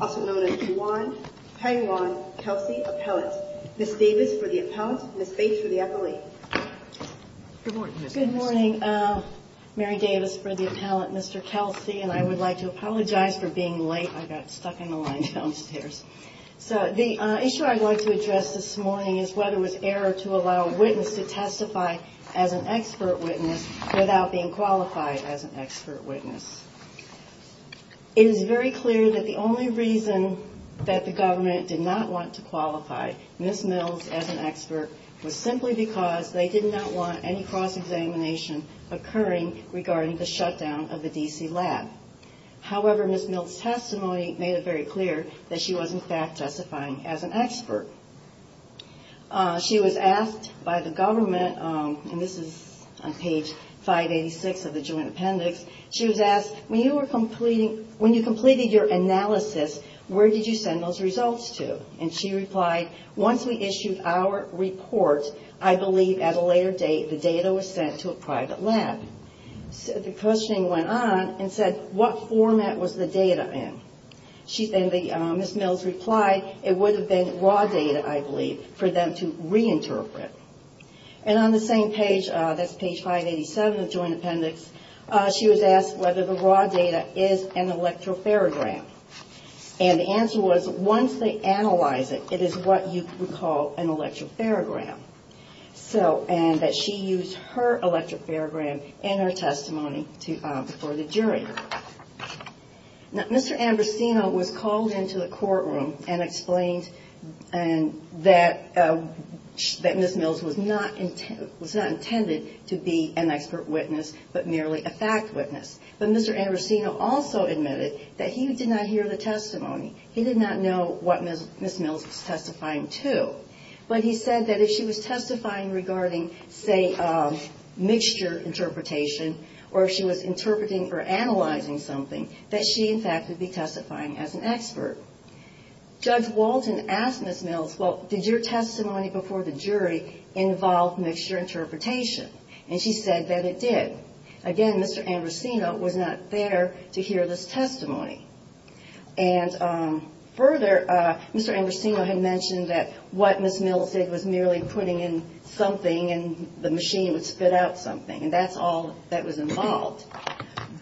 also known as Juwan Paiwan Kelsey appellate. Ms. Davis for the appellant, Ms. Bates for the appellate. Good morning, Mary Davis for the appellant, Mr. Kelsey, and I would like to apologize for being late. I got stuck in the line downstairs. So the issue I'd like to address this morning is whether it was error to allow a witness to testify as an expert. Witness without being qualified as an expert witness. It is very clear that the only reason that the government did not want to qualify Ms. Mills as an expert was simply because they did not want any cross-examination occurring regarding the shutdown of the D.C. lab. However, Ms. Mills testimony made it very clear that she was in fact testifying as an expert. She was asked by the government, and this is on page 586 of the joint appendix, she was asked, when you were completing, when you completed your analysis, where did you send those results to? And she replied, once we issued our report, I believe at a later date the data was sent to a private lab. The questioning went on and said, what format was the data in? Ms. Mills replied, it would have been raw data, I believe, for them to reinterpret. And on the same page, that's page 587 of the joint appendix, she was asked whether the raw data is an electropharogram. And the answer was, once they analyze it, it is what you would call an electropharogram. So, and that she used her electropharogram in her testimony for the jury. Now, Mr. Ambrosino was called into the courtroom and explained that Ms. Mills was not intended to be an expert witness, but merely a fact witness. But Mr. Ambrosino also admitted that he did not hear the testimony. He did not know what Ms. Mills was testifying to. But he said that if she was testifying regarding, say, mixture interpretation, or if she was interpreting or analyzing something, that she, in fact, would be testifying as an expert. Judge Walton asked Ms. Mills, well, did your testimony before the jury involve mixture interpretation? And she said that it did. Again, Mr. Ambrosino was not there to hear this testimony. And further, Mr. Ambrosino had mentioned that what Ms. Mills said was merely putting in something, and the machine would spit out something. And that's all that was involved.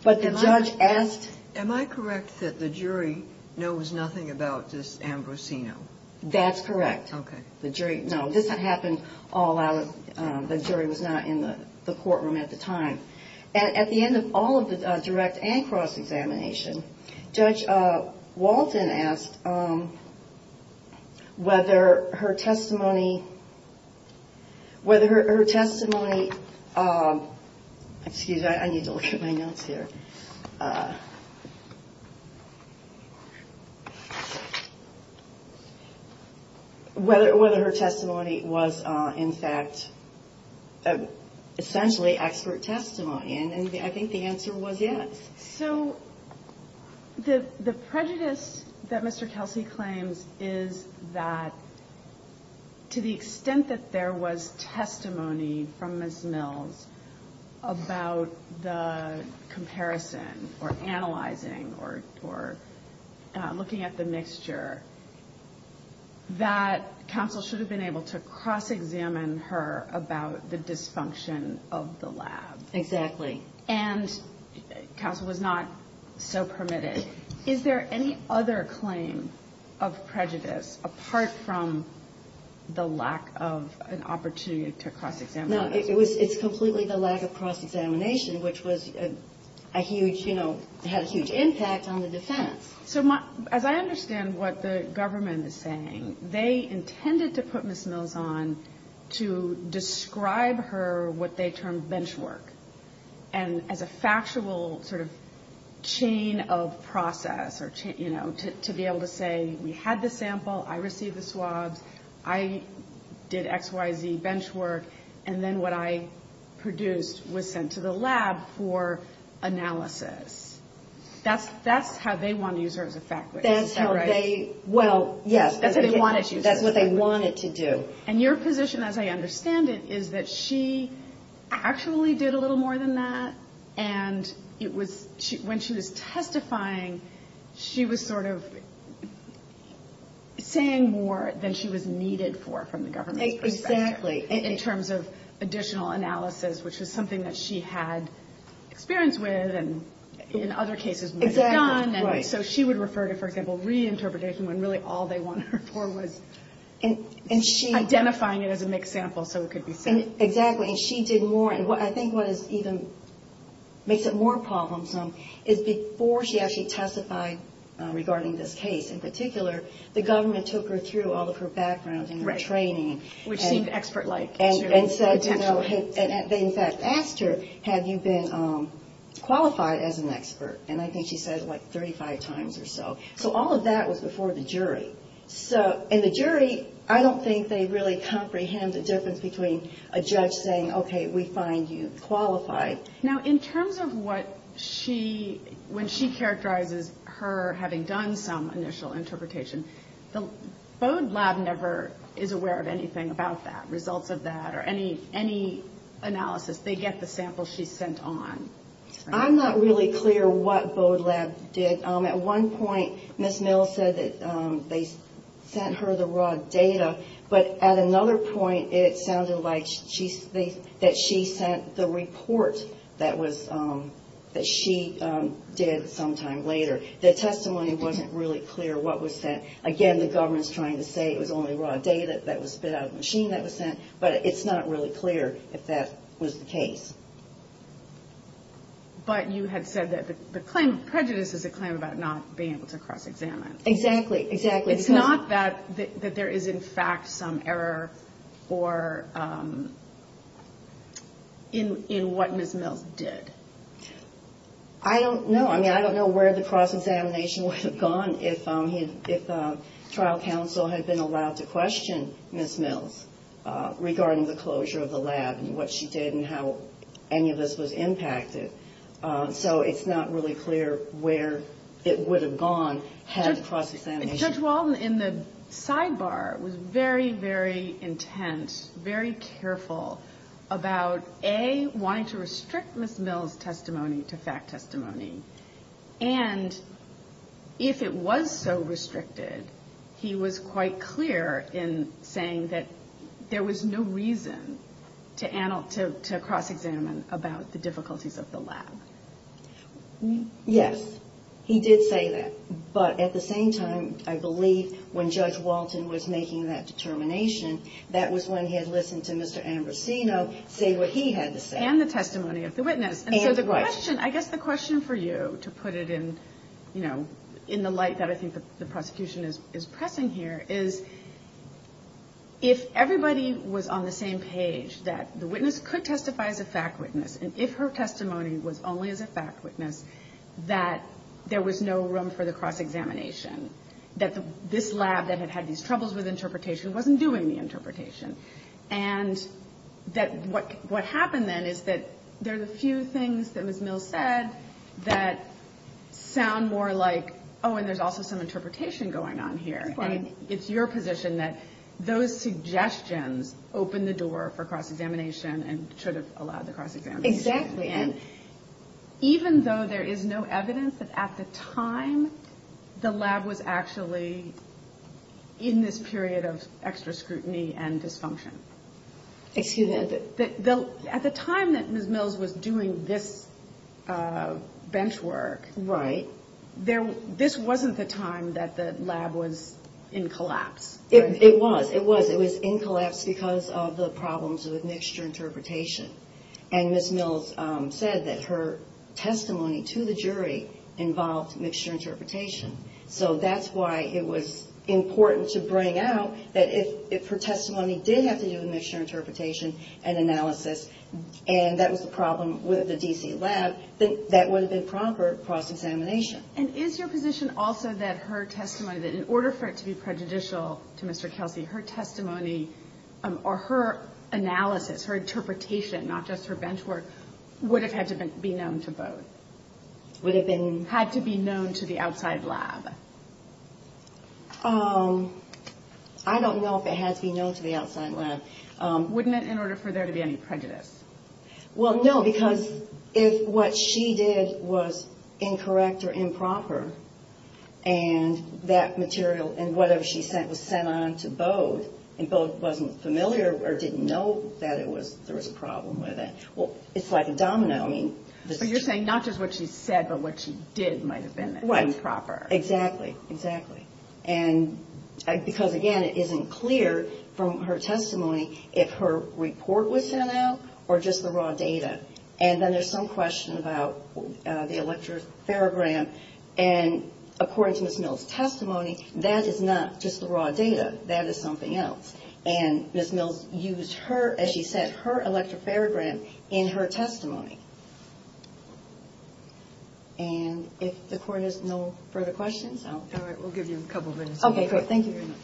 But the judge asked... Am I correct that the jury knows nothing about this Ambrosino? That's correct. Okay. No, this happened all out of... The jury was not in the courtroom at the time. At the end of all of the direct and cross-examination, Judge Walton asked whether her testimony... Excuse me, I need to look at my notes here. She asked whether her testimony was, in fact, essentially expert testimony. And I think the answer was yes. So the prejudice that Mr. Kelsey claims is that to the extent that there was testimony from Ms. Mills about the comparison or analyzing or looking at the mixture, that counsel should be able to say, well, I don't know. Counsel should have been able to cross-examine her about the dysfunction of the lab. Exactly. And counsel was not so permitted. Is there any other claim of prejudice apart from the lack of an opportunity to cross-examine her? No, it's completely the lack of cross-examination, which had a huge impact on the defense. So as I understand what the government is saying, they intended to put Ms. Mills on to describe her what they termed bench work. And as a factual sort of chain of process, you know, to be able to say, we had the sample, I received the swabs, I did XYZ bench work, and then what I produced was sent to the lab for analysis. That's how they want to use her as a fact witness. Is that right? Well, yes. That's what they wanted to do. And your position, as I understand it, is that she actually did a little more than that, and when she was testifying, she was sort of saying more than she was needed for from the government's perspective. Exactly. So she would refer to, for example, reinterpretation when really all they wanted her for was identifying it as a mixed sample so it could be sent. Exactly. And she did more. And I think what makes it even more problemsome is before she actually testified regarding this case in particular, the government took her through all of her background and her training. Which seemed expert-like. And they in fact asked her, have you been qualified as an expert? And I think she said it like 35 times or so. So all of that was before the jury. And the jury, I don't think they really comprehend the difference between a judge saying, okay, we find you qualified. Now, in terms of what she, when she characterizes her having done some initial interpretation, the Bode Lab never is aware of anything about that, results of that. Or any analysis. They get the sample she sent on. I'm not really clear what Bode Lab did. At one point, Ms. Mills said that they sent her the raw data. But at another point, it sounded like that she sent the report that she did sometime later. The testimony wasn't really clear what was sent. Again, the government's trying to say it was only raw data that was spit out of the machine that was sent. But it's not really clear if that was the case. But you had said that the claim of prejudice is a claim about not being able to cross-examine. Exactly. Exactly. It's not that there is in fact some error in what Ms. Mills did. I don't know. I mean, I don't know where the cross-examination would have gone if trial counsel had been allowed to question Ms. Mills regarding the closure of the lab and what she did and how any of this was impacted. So it's not really clear where it would have gone had the cross-examination. Judge Walden, in the sidebar, was very, very intense, very careful about, A, wanting to restrict Ms. Mills' ability to cross-examine. From witness testimony to fact testimony. And if it was so restricted, he was quite clear in saying that there was no reason to cross-examine about the difficulties of the lab. Yes. He did say that. But at the same time, I believe when Judge Walden was making that determination, that was when he had listened to Mr. Ambrosino say what he had to say. And the testimony of the witness. And so the question, I guess the question for you, to put it in, you know, in the light that I think the prosecution is pressing here, is if everybody was on the same page, that the witness could testify as a fact witness, and if her testimony was only as a fact witness, that there was no room for the cross-examination, that this lab that had had these troubles with interpretation wasn't doing the interpretation. And that what happened then is that there are a few things that Ms. Mills said that sound more like, oh, and there's also some interpretation going on here. And it's your position that those suggestions opened the door for cross-examination and should have allowed the cross-examination. Exactly. And even though there is no evidence that at the time the lab was actually in this period of extra scrutiny and dysfunction, there was no evidence that there was a cross-examination. Excuse me, at the time that Ms. Mills was doing this bench work, this wasn't the time that the lab was in collapse. It was. It was. It was in collapse because of the problems with mixture interpretation. And Ms. Mills said that her testimony to the jury involved mixture interpretation. So that's why it was important to bring out that if her testimony did involve mixture interpretation, that there was room for cross-examination. But if it didn't have to do with mixture interpretation and analysis, and that was the problem with the D.C. lab, then that would have been proper cross-examination. And is your position also that her testimony, that in order for it to be prejudicial to Mr. Kelsey, her testimony or her analysis, her interpretation, not just her bench work, would have had to be known to vote? Would have been? Had to be known to the outside lab? I don't know if it had to be known to the outside lab. Wouldn't it in order for there to be any prejudice? Well, no, because if what she did was incorrect or improper, and that material and whatever she sent was sent on to Bode, and Bode wasn't familiar or didn't know that there was a problem with it, well, it's like a domino. But you're saying not just what she said, but what she did might have been improper. Right. Exactly. Exactly. And because, again, it isn't clear from her testimony if her report was sent out or just the raw data. And then there's some question about the electropharogram, and according to Ms. Mills' testimony, that is not just the raw data. That is something else. And Ms. Mills used her, as she said, her electropharogram in her testimony. And if the court has no further questions, I'll... All right. We'll give you a couple of minutes. Okay, great. Thank you very much.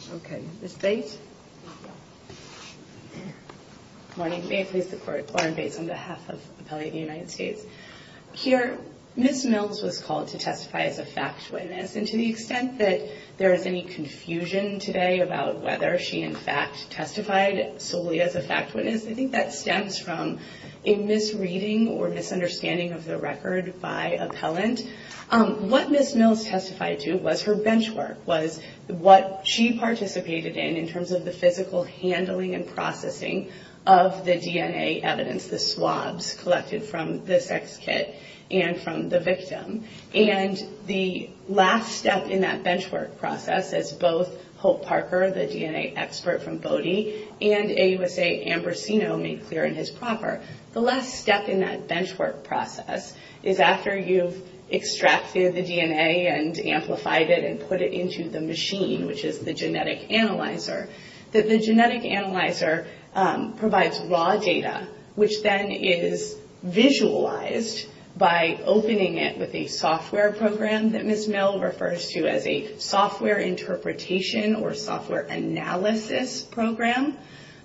Here, Ms. Mills was called to testify as a fact witness, and to the extent that there is any confusion today about whether she, in fact, testified solely as a fact witness, I think that stems from a misreading or misinterpretation of her testimony. I think that stems from a misunderstanding of the record by appellant. What Ms. Mills testified to was her bench work, was what she participated in, in terms of the physical handling and processing of the DNA evidence, the swabs collected from the sex kit and from the victim. And the last step in that bench work process, as both Hope Parker, the DNA expert from Bodie, and AUSA Ambrosino made clear in his proper, the last step in that bench work process was to identify the DNA evidence. And the last step in that bench work process is after you've extracted the DNA and amplified it and put it into the machine, which is the genetic analyzer, that the genetic analyzer provides raw data, which then is visualized by opening it with a software program that Ms. Mill refers to as a software interpretation or software analysis program.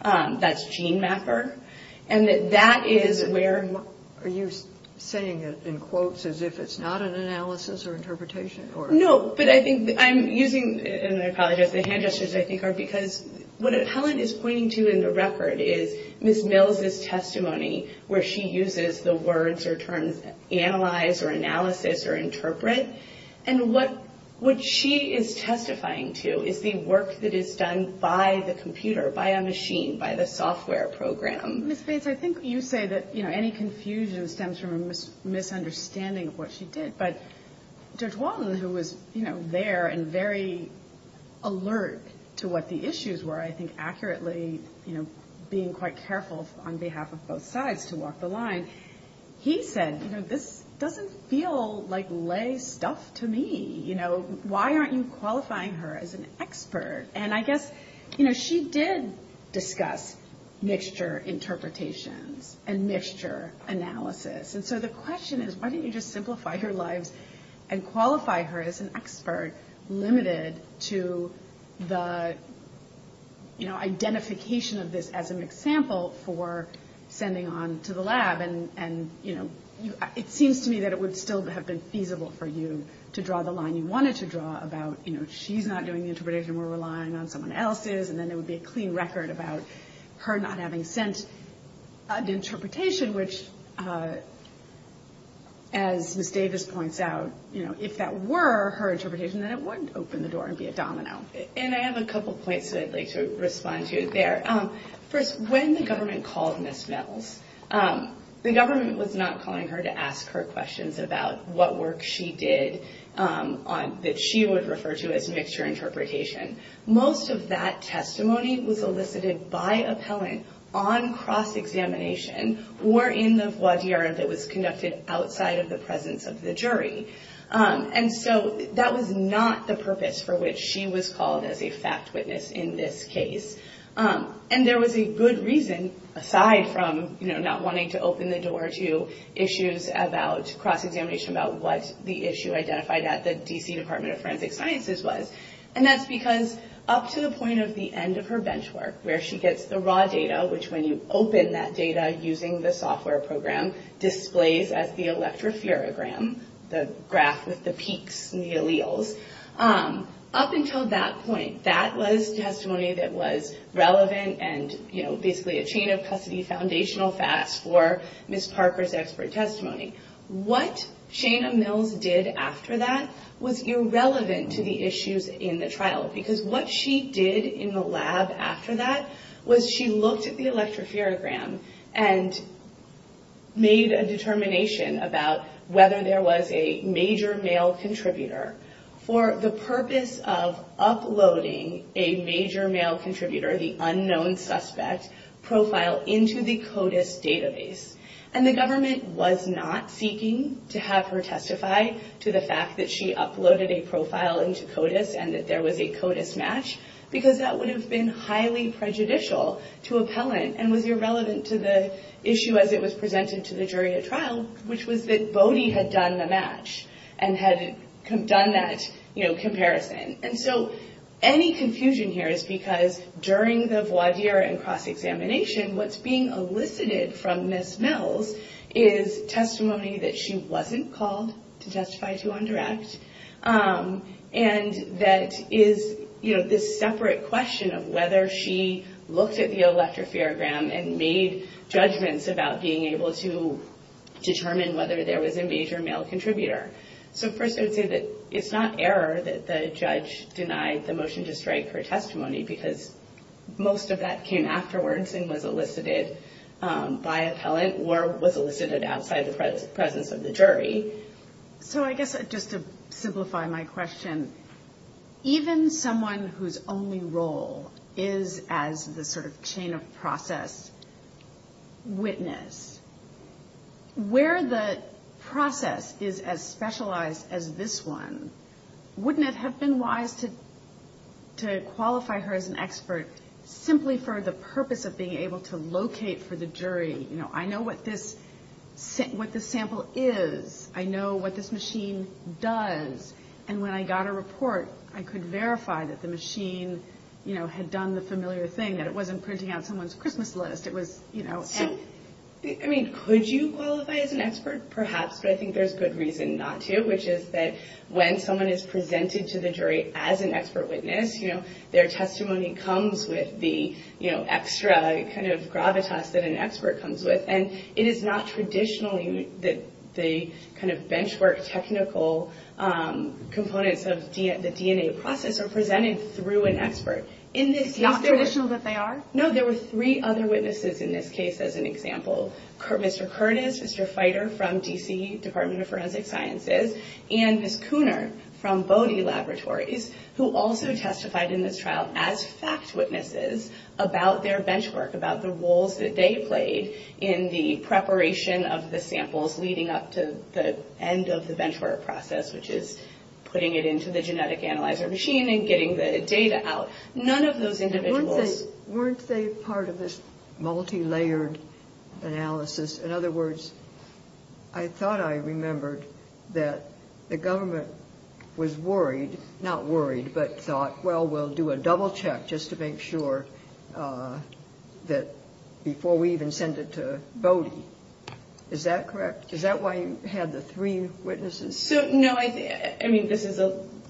That's GeneMapper, and that is where... Are you saying it in quotes as if it's not an analysis or interpretation? No, but I think I'm using, and I apologize, the hand gestures I think are because what appellant is pointing to in the record is Ms. Mills' testimony where she uses the words or terms analyze or analysis or interpret, and what she is testifying to is the work that is done by the computer, by a machine. By the software program. And so the question is, why don't you just simplify her lives and qualify her as an expert limited to the, you know, identification of this as an example for sending on to the lab. And, you know, it seems to me that it would still have been feasible for you to draw the line you wanted to draw about, you know, she's not doing the interpretation, we're relying on someone else's, and then there would be a clean record about her. Not having sent an interpretation, which, as Ms. Davis points out, you know, if that were her interpretation, then it wouldn't open the door and be a domino. And I have a couple points that I'd like to respond to there. First, when the government called Ms. Mills, the government was not calling her to ask her questions about what work she did that she would refer to as mixture interpretation. Most of that testimony was elicited by appellant on cross-examination, or in the voir dire that was conducted outside of the presence of the jury. And so that was not the purpose for which she was called as a fact witness in this case. And there was a good reason, aside from, you know, not wanting to open the door to issues about cross-examination about what the issue identified at the D.C. Department of Forensic Sciences was. And that's because up to the point of the end of her bench work, where she gets the raw data, which when you open that data using the software program, displays as the electrophorogram, the graph with the peaks and the alleles. Up until that point, that was testimony that was relevant and, you know, basically a chain of custody foundational facts for Ms. Parker's expert testimony. What Shana Mills did after that was irrelevant to the issues in the trial. Because what she did in the lab after that was she looked at the electrophorogram and made a determination about whether there was a major male contributor. For the purpose of uploading a major male contributor, the unknown suspect, profile into the CODIS database. And the government was not seeking to have her testify to the fact that she uploaded a profile into CODIS and that there was a CODIS match. Because that would have been highly prejudicial to appellant and was irrelevant to the issue as it was presented to the jury at trial, which was that Bodie had done the match. And had done that, you know, comparison. And so any confusion here is because during the voir dire and cross-examination, what's being elicited from Ms. Mills is testimony that she wasn't called to testify to on direct. And that is, you know, this separate question of whether she looked at the electrophorogram and made judgments about being able to determine whether there was a major male contributor. So first I would say that it's not error that the judge denied the motion to strike her testimony, because most of that came afterwards and was elicited by appellant or was elicited outside the presence of the jury. So I guess just to simplify my question, even someone whose only role is as the sort of chain of process witness, where the process is as specific as the actions, specialized as this one, wouldn't it have been wise to qualify her as an expert simply for the purpose of being able to locate for the jury, you know, I know what this sample is, I know what this machine does, and when I got a report, I could verify that the machine, you know, had done the familiar thing, that it wasn't printing out someone's Christmas list. I mean, could you qualify as an expert? Perhaps, but I think there's good reason not to, which is that when someone is presented to the jury as an expert witness, their testimony comes with the extra kind of gravitas that an expert comes with. And it is not traditional that the kind of bench work technical components of the DNA process are presented through an expert. It's not traditional that they are? No, there were three other witnesses in this case, as an example. Mr. Curtis, Mr. Fighter from D.C., Department of Forensic Sciences, and Ms. Cooner from Bodie Laboratories, who also testified in this trial as fact witnesses about their bench work, about the roles that they played in the preparation of the samples leading up to the end of the bench work process, which is putting it into the genetic analyzer machine and getting the data out. None of those individuals? Weren't they part of this multilayered analysis? In other words, I thought I remembered that the government was worried, not worried, but thought, well, we'll do a double check just to make sure that before we even send it to Bodie. Is that correct? Is that why you had the three witnesses? I mean, this is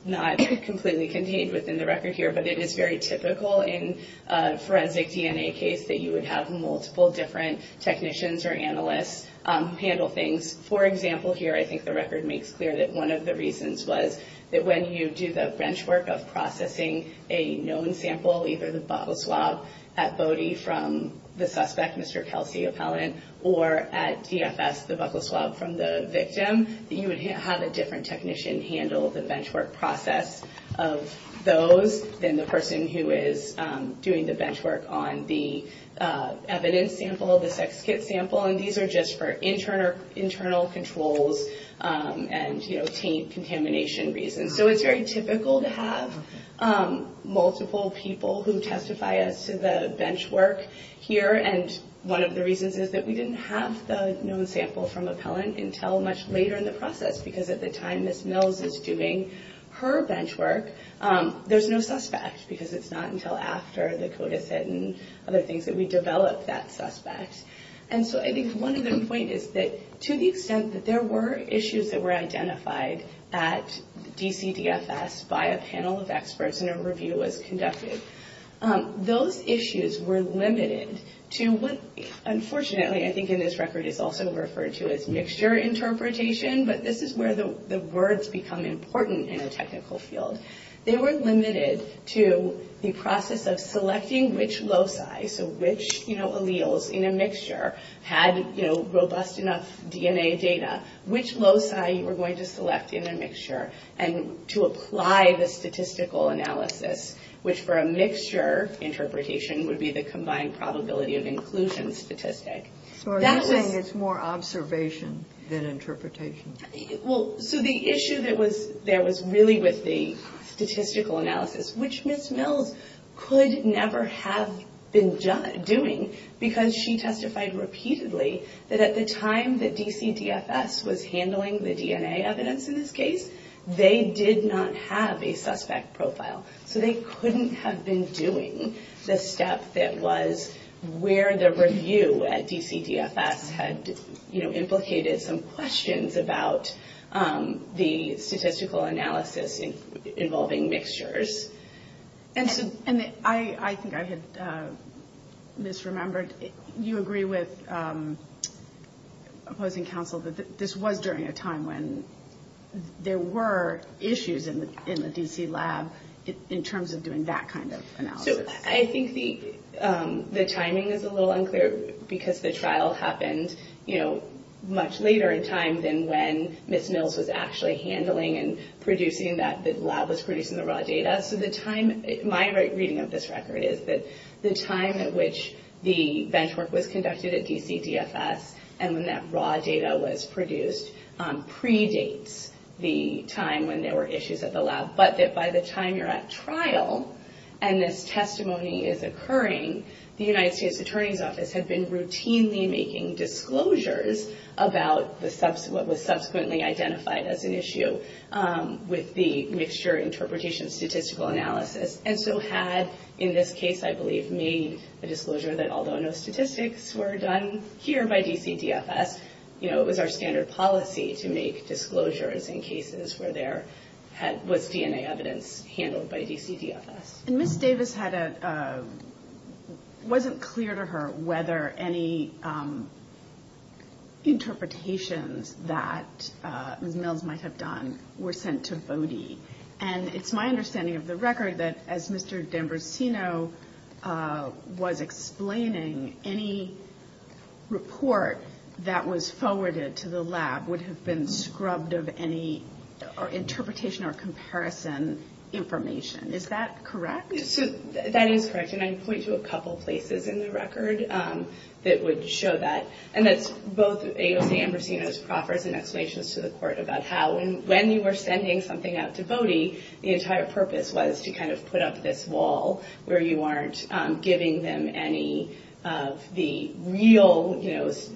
not completely contained within the record here, but it is very typical in a forensic DNA case that you would have multiple different technicians or analysts handle things. For example, here, I think the record makes clear that one of the reasons was that when you do the bench work of processing a known sample, either the buccal swab at Bodie from the suspect, Mr. Kelsey, or at DFS, the buccal swab from the victim, you would have a different technician handle the bench work process of those than the person who is doing the bench work on the evidence sample, the sex kit sample. And these are just for internal controls and contamination reasons. So it's very typical to have multiple people who testify as to the bench work here. And one of the reasons is that we didn't have the known sample from Appellant until much later in the process, because at the time Ms. Mills is doing her bench work, there's no suspect, because it's not until after the code is set and other things that we develop that suspect. And so I think one of the point is that to the extent that there were issues that were identified at DCDFS by a panel of experts and a review was conducted, those issues were limited to the bench work. Unfortunately, I think in this record it's also referred to as mixture interpretation, but this is where the words become important in a technical field. They were limited to the process of selecting which loci, so which alleles in a mixture had robust enough DNA data, which loci you were going to select in a mixture, and to apply the statistical analysis, which for a mixture interpretation would be the combined probability of inclusion. So you're saying it's more observation than interpretation? Well, so the issue that was there was really with the statistical analysis, which Ms. Mills could never have been doing, because she testified repeatedly that at the time that DCDFS was handling the DNA evidence in this case, they did not have a suspect profile. So they couldn't have been doing the step that was where the review at DCDFS had implicated some questions about the statistical analysis involving mixtures. And so I think I had misremembered, you agree with opposing counsel that this was during a time when there were issues in the DC lab. In terms of doing that kind of analysis. So I think the timing is a little unclear, because the trial happened much later in time than when Ms. Mills was actually handling and producing that, the lab was producing the raw data. So the time, my reading of this record is that the time at which the benchmark was conducted at DCDFS, and when that raw data was produced, predates the time when there were issues at the lab. But that by the time you're at trial, and this testimony is occurring, the United States Attorney's Office had been routinely making disclosures about what was subsequently identified as an issue with the mixture interpretation statistical analysis. And so had, in this case I believe, made a disclosure that although no statistics were done here by DCDFS, it was our standard policy to make disclosures in cases where there was DNA evidence. And Ms. Davis had a, wasn't clear to her whether any interpretations that Ms. Mills might have done were sent to Bode. And it's my understanding of the record that as Mr. D'Ambrosino was explaining, any report that was forwarded to the lab would have been scrubbed of any interpretation or comparison information. Is that correct? So that is correct, and I point to a couple places in the record that would show that. And that's both AOC Ambrosino's proffers and explanations to the court about how, when you were sending something out to Bode, the entire purpose was to kind of put up this wall where you aren't giving them any of the real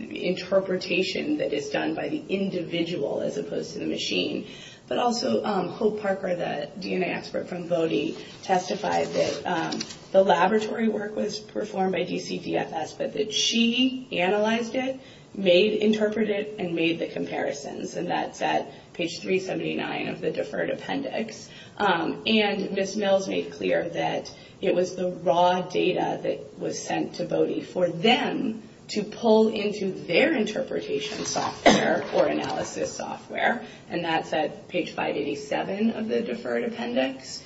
interpretation that is done by the individual as opposed to the machine. But also Hope Parker, the DNA expert from Bode, testified that the laboratory work was performed by DCDFS, but that she analyzed it, made, interpreted, and made the comparisons. And that's at page 379 of the deferred appendix. And Ms. Mills made clear that it was the raw data that was sent to Bode for them to pull into their interpretation software or analysis software. And that's at page 587 of the deferred appendix,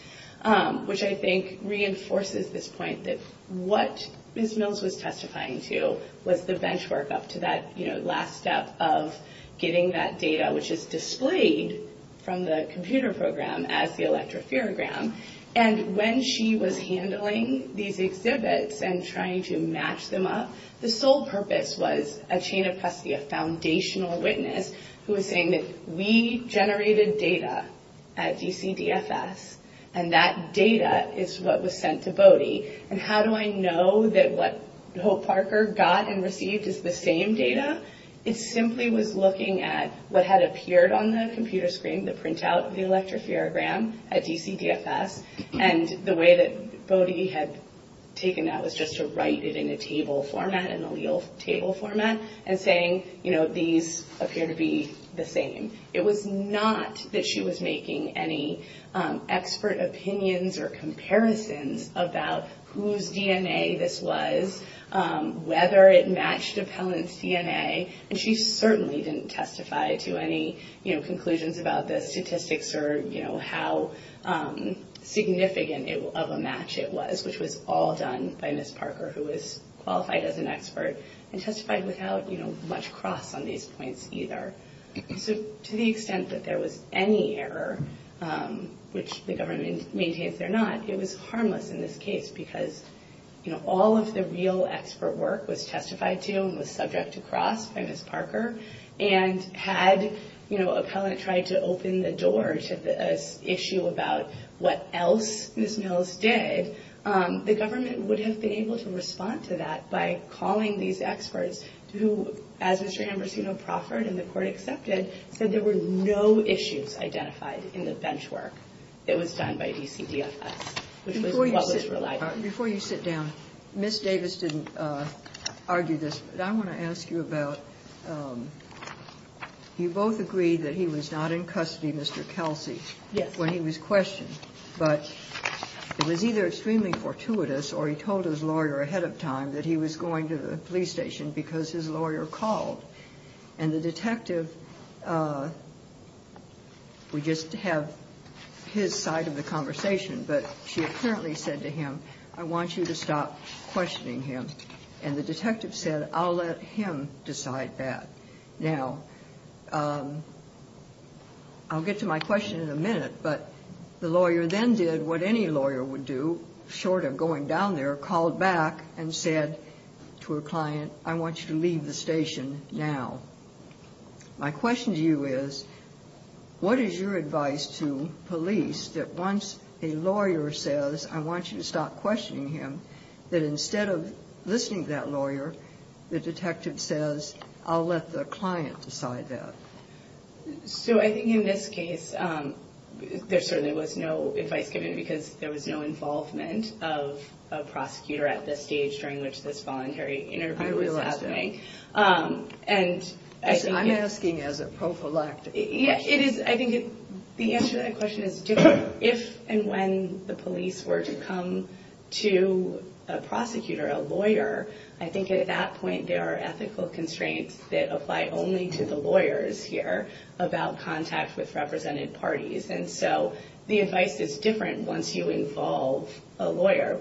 which I think reinforces this point that what Ms. Mills was testifying to was the bench work up to that last step of getting that data, which is displayed from the computer program as the electrophorogram. And when she was handling these exhibits and trying to match them up, the sole purpose was a chain of custody, a foundational witness, who was saying that we need to do this. We generated data at DCDFS, and that data is what was sent to Bode. And how do I know that what Hope Parker got and received is the same data? It simply was looking at what had appeared on the computer screen, the printout of the electrophorogram at DCDFS, and the way that Bode had taken that was just to write it in a table format, an allele table format, and saying, you know, these appear to be the same. And it was not that she was making any expert opinions or comparisons about whose DNA this was, whether it matched a pellant's DNA, and she certainly didn't testify to any, you know, conclusions about the statistics or, you know, how significant of a match it was, which was all done by Ms. Parker, who was qualified as an expert, and testified without, you know, much cross on these points either. So to the extent that there was any error, which the government maintains there not, it was harmless in this case, because, you know, all of the real expert work was testified to and was subject to cross by Ms. Parker, and had, you know, a pellant tried to open the door to the issue about what else Ms. Mills did, the government would have been able to respond to that by calling these experts, who, as Mr. Ambresino-Proffert and the Court of Appeals say, would have been able to do. But the government accepted, said there were no issues identified in the bench work that was done by DCDFS, which was what was relied on. Before you sit down, Ms. Davis didn't argue this, but I want to ask you about, you both agreed that he was not in custody, Mr. Kelsey, when he was questioned, but it was either extremely fortuitous or he told his lawyer ahead of time that he was going to the police station because his lawyer called. And the detective, we just have his side of the conversation, but she apparently said to him, I want you to stop questioning him, and the detective said, I'll let him decide that. Now, I'll get to my question in a minute, but the lawyer then did what any lawyer would do, short of going down there, called back and said to a client, I want you to leave the station now. My question to you is, what is your advice to police that once a lawyer says, I want you to stop questioning him, that instead of listening to that lawyer, the detective says, I'll let the client decide that? So I think in this case, there certainly was no advice given because there was no involvement of a prosecutor at this stage during which this voluntary interview was happening. I realize that. I'm asking as a prophylactic question. The answer to that question is different. If and when the police were to come to a prosecutor, a lawyer, I think at that point, there are ethical constraints that apply only to the lawyers here about contact with represented parties. And so the advice is different once you involve a lawyer.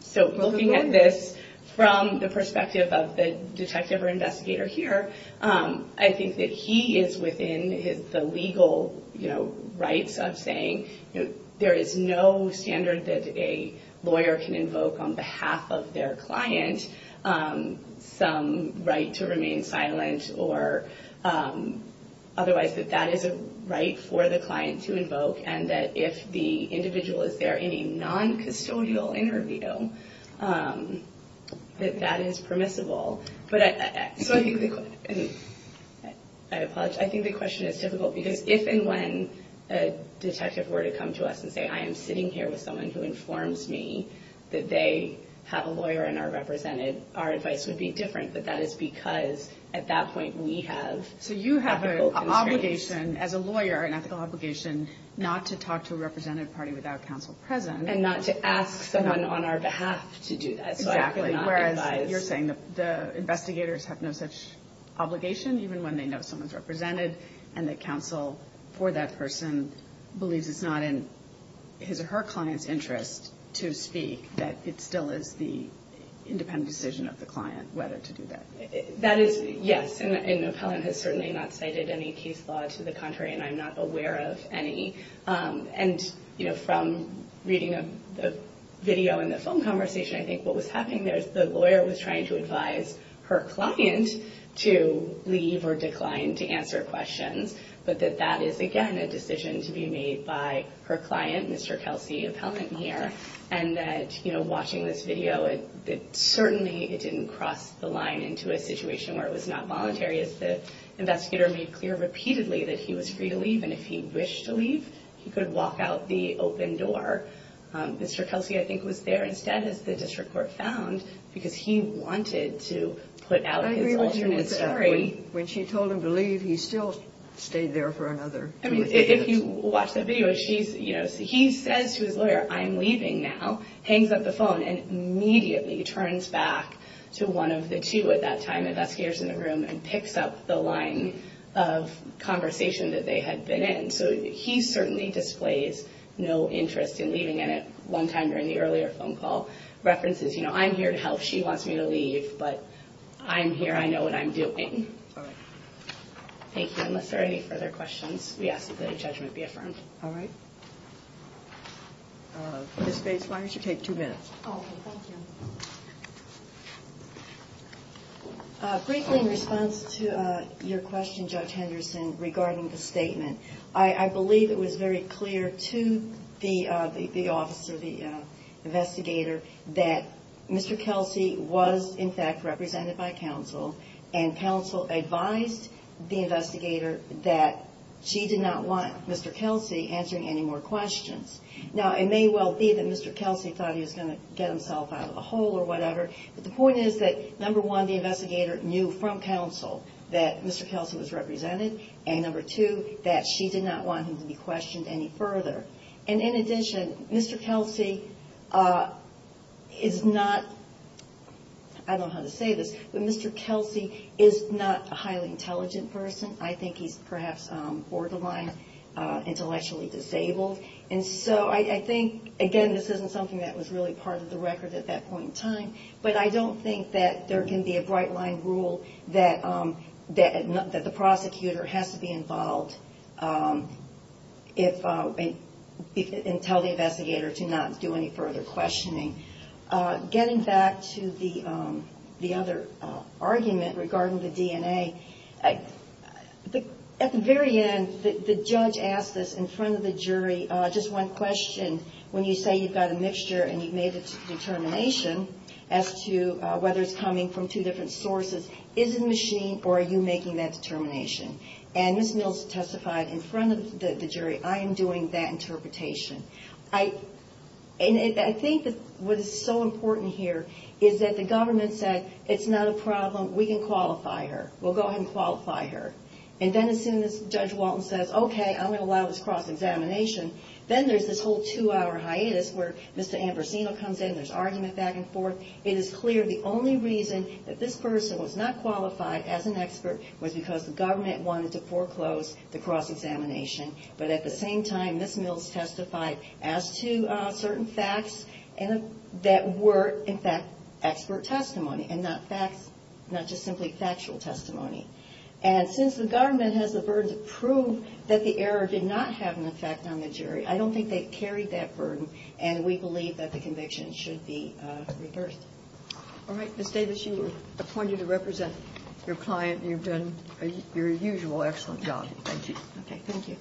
So looking at this from the perspective of the detective or investigator here, I think that he is within the legal rights of saying there is no standard that a lawyer can invoke on behalf of their client. Some right to remain silent or otherwise that that is a right for the client to invoke and that if the individual is there in a non-custodial interview, that that is permissible. So I think the question is difficult because if and when a detective were to come to us and say, I am sitting here with someone who informs me that they have a lawyer and are represented, our advice would be different. But that is because at that point, we have ethical constraints. So you have an obligation as a lawyer, an ethical obligation, not to talk to a represented party without counsel present. And not to ask someone on our behalf to do that. Exactly. Whereas you're saying the investigators have no such obligation, even when they know someone's represented and the counsel for that person believes it's not in his or her client's interest to speak, that it still is the independent decision of the client whether to do that. That is, yes. And an appellant has certainly not cited any case law to the contrary. And I'm not aware of any. And from reading a video in the phone conversation, I think what was happening there is the lawyer was trying to advise her client to leave or decline to answer questions. But that that is, again, a decision to be made by her client, Mr. Kelsey, appellant here. And that watching this video, certainly it didn't cross the line into a situation where it was not voluntary. As the investigator made clear repeatedly that he was free to leave. And if he wished to leave, he could walk out the open door. Mr. Kelsey, I think, was there instead, as the district court found, because he wanted to put out his alternate story. When she told him to leave, he still stayed there for another two or three minutes. If you watch the video, he says to his lawyer, I'm leaving now, hangs up the phone and immediately turns back to one of the two at that time, investigators in the room, and picks up the line of conversation that they had been in. So he certainly displays no interest in leaving. And at one time during the earlier phone call, references, you know, I'm here to help. She wants me to leave, but I'm here. I know what I'm doing. Thank you. Unless there are any further questions, we ask that the judgment be affirmed. All right. Ms. Bates, why don't you take two minutes? Okay, thank you. Briefly in response to your question, Judge Henderson, regarding the statement. I believe it was very clear to the officer, the investigator, that Mr. Kelsey was in fact represented by counsel. And counsel advised the investigator that she did not want Mr. Kelsey answering any more questions. Now, it may well be that Mr. Kelsey thought he was going to get himself out of the hole or whatever. But the point is that, number one, the investigator knew from counsel that Mr. Kelsey was represented. And number two, that she did not want him to be questioned any further. And in addition, Mr. Kelsey is not, I don't know how to say this, but Mr. Kelsey is not a highly intelligent person. I think he's perhaps borderline intellectually disabled. And so I think, again, this isn't something that was really part of the record at that point in time. But I don't think that there can be a bright-line rule that the prosecutor has to be involved and tell the investigator to not do any further questioning. Getting back to the other argument regarding the DNA, at the very end, the judge asked this in front of the jury, just one question, when you say you've got a mixture and you've made a determination as to whether it's coming from two different sources, is it machine or are you making that determination? And Ms. Mills testified in front of the jury, I am doing that interpretation. And I think what is so important here is that the government said, it's not a problem, we can qualify her. We'll go ahead and qualify her. And then as soon as Judge Walton says, okay, I'm going to allow this cross-examination, then there's this whole two-hour hiatus where Mr. Ambrosino comes in, there's argument back and forth. It is clear the only reason that this person was not qualified as an expert was because the government wanted to foreclose the cross-examination. But at the same time, Ms. Mills testified as to certain facts that were, in fact, expert testimony and not just simply factual testimony. And since the government has the burden to prove that the error did not have an effect on the jury, I don't think they carried that burden, and we believe that the conviction should be reversed. All right, Ms. Davis, you were appointed to represent your client, and you've done your usual excellent job. Thank you. Okay, thank you.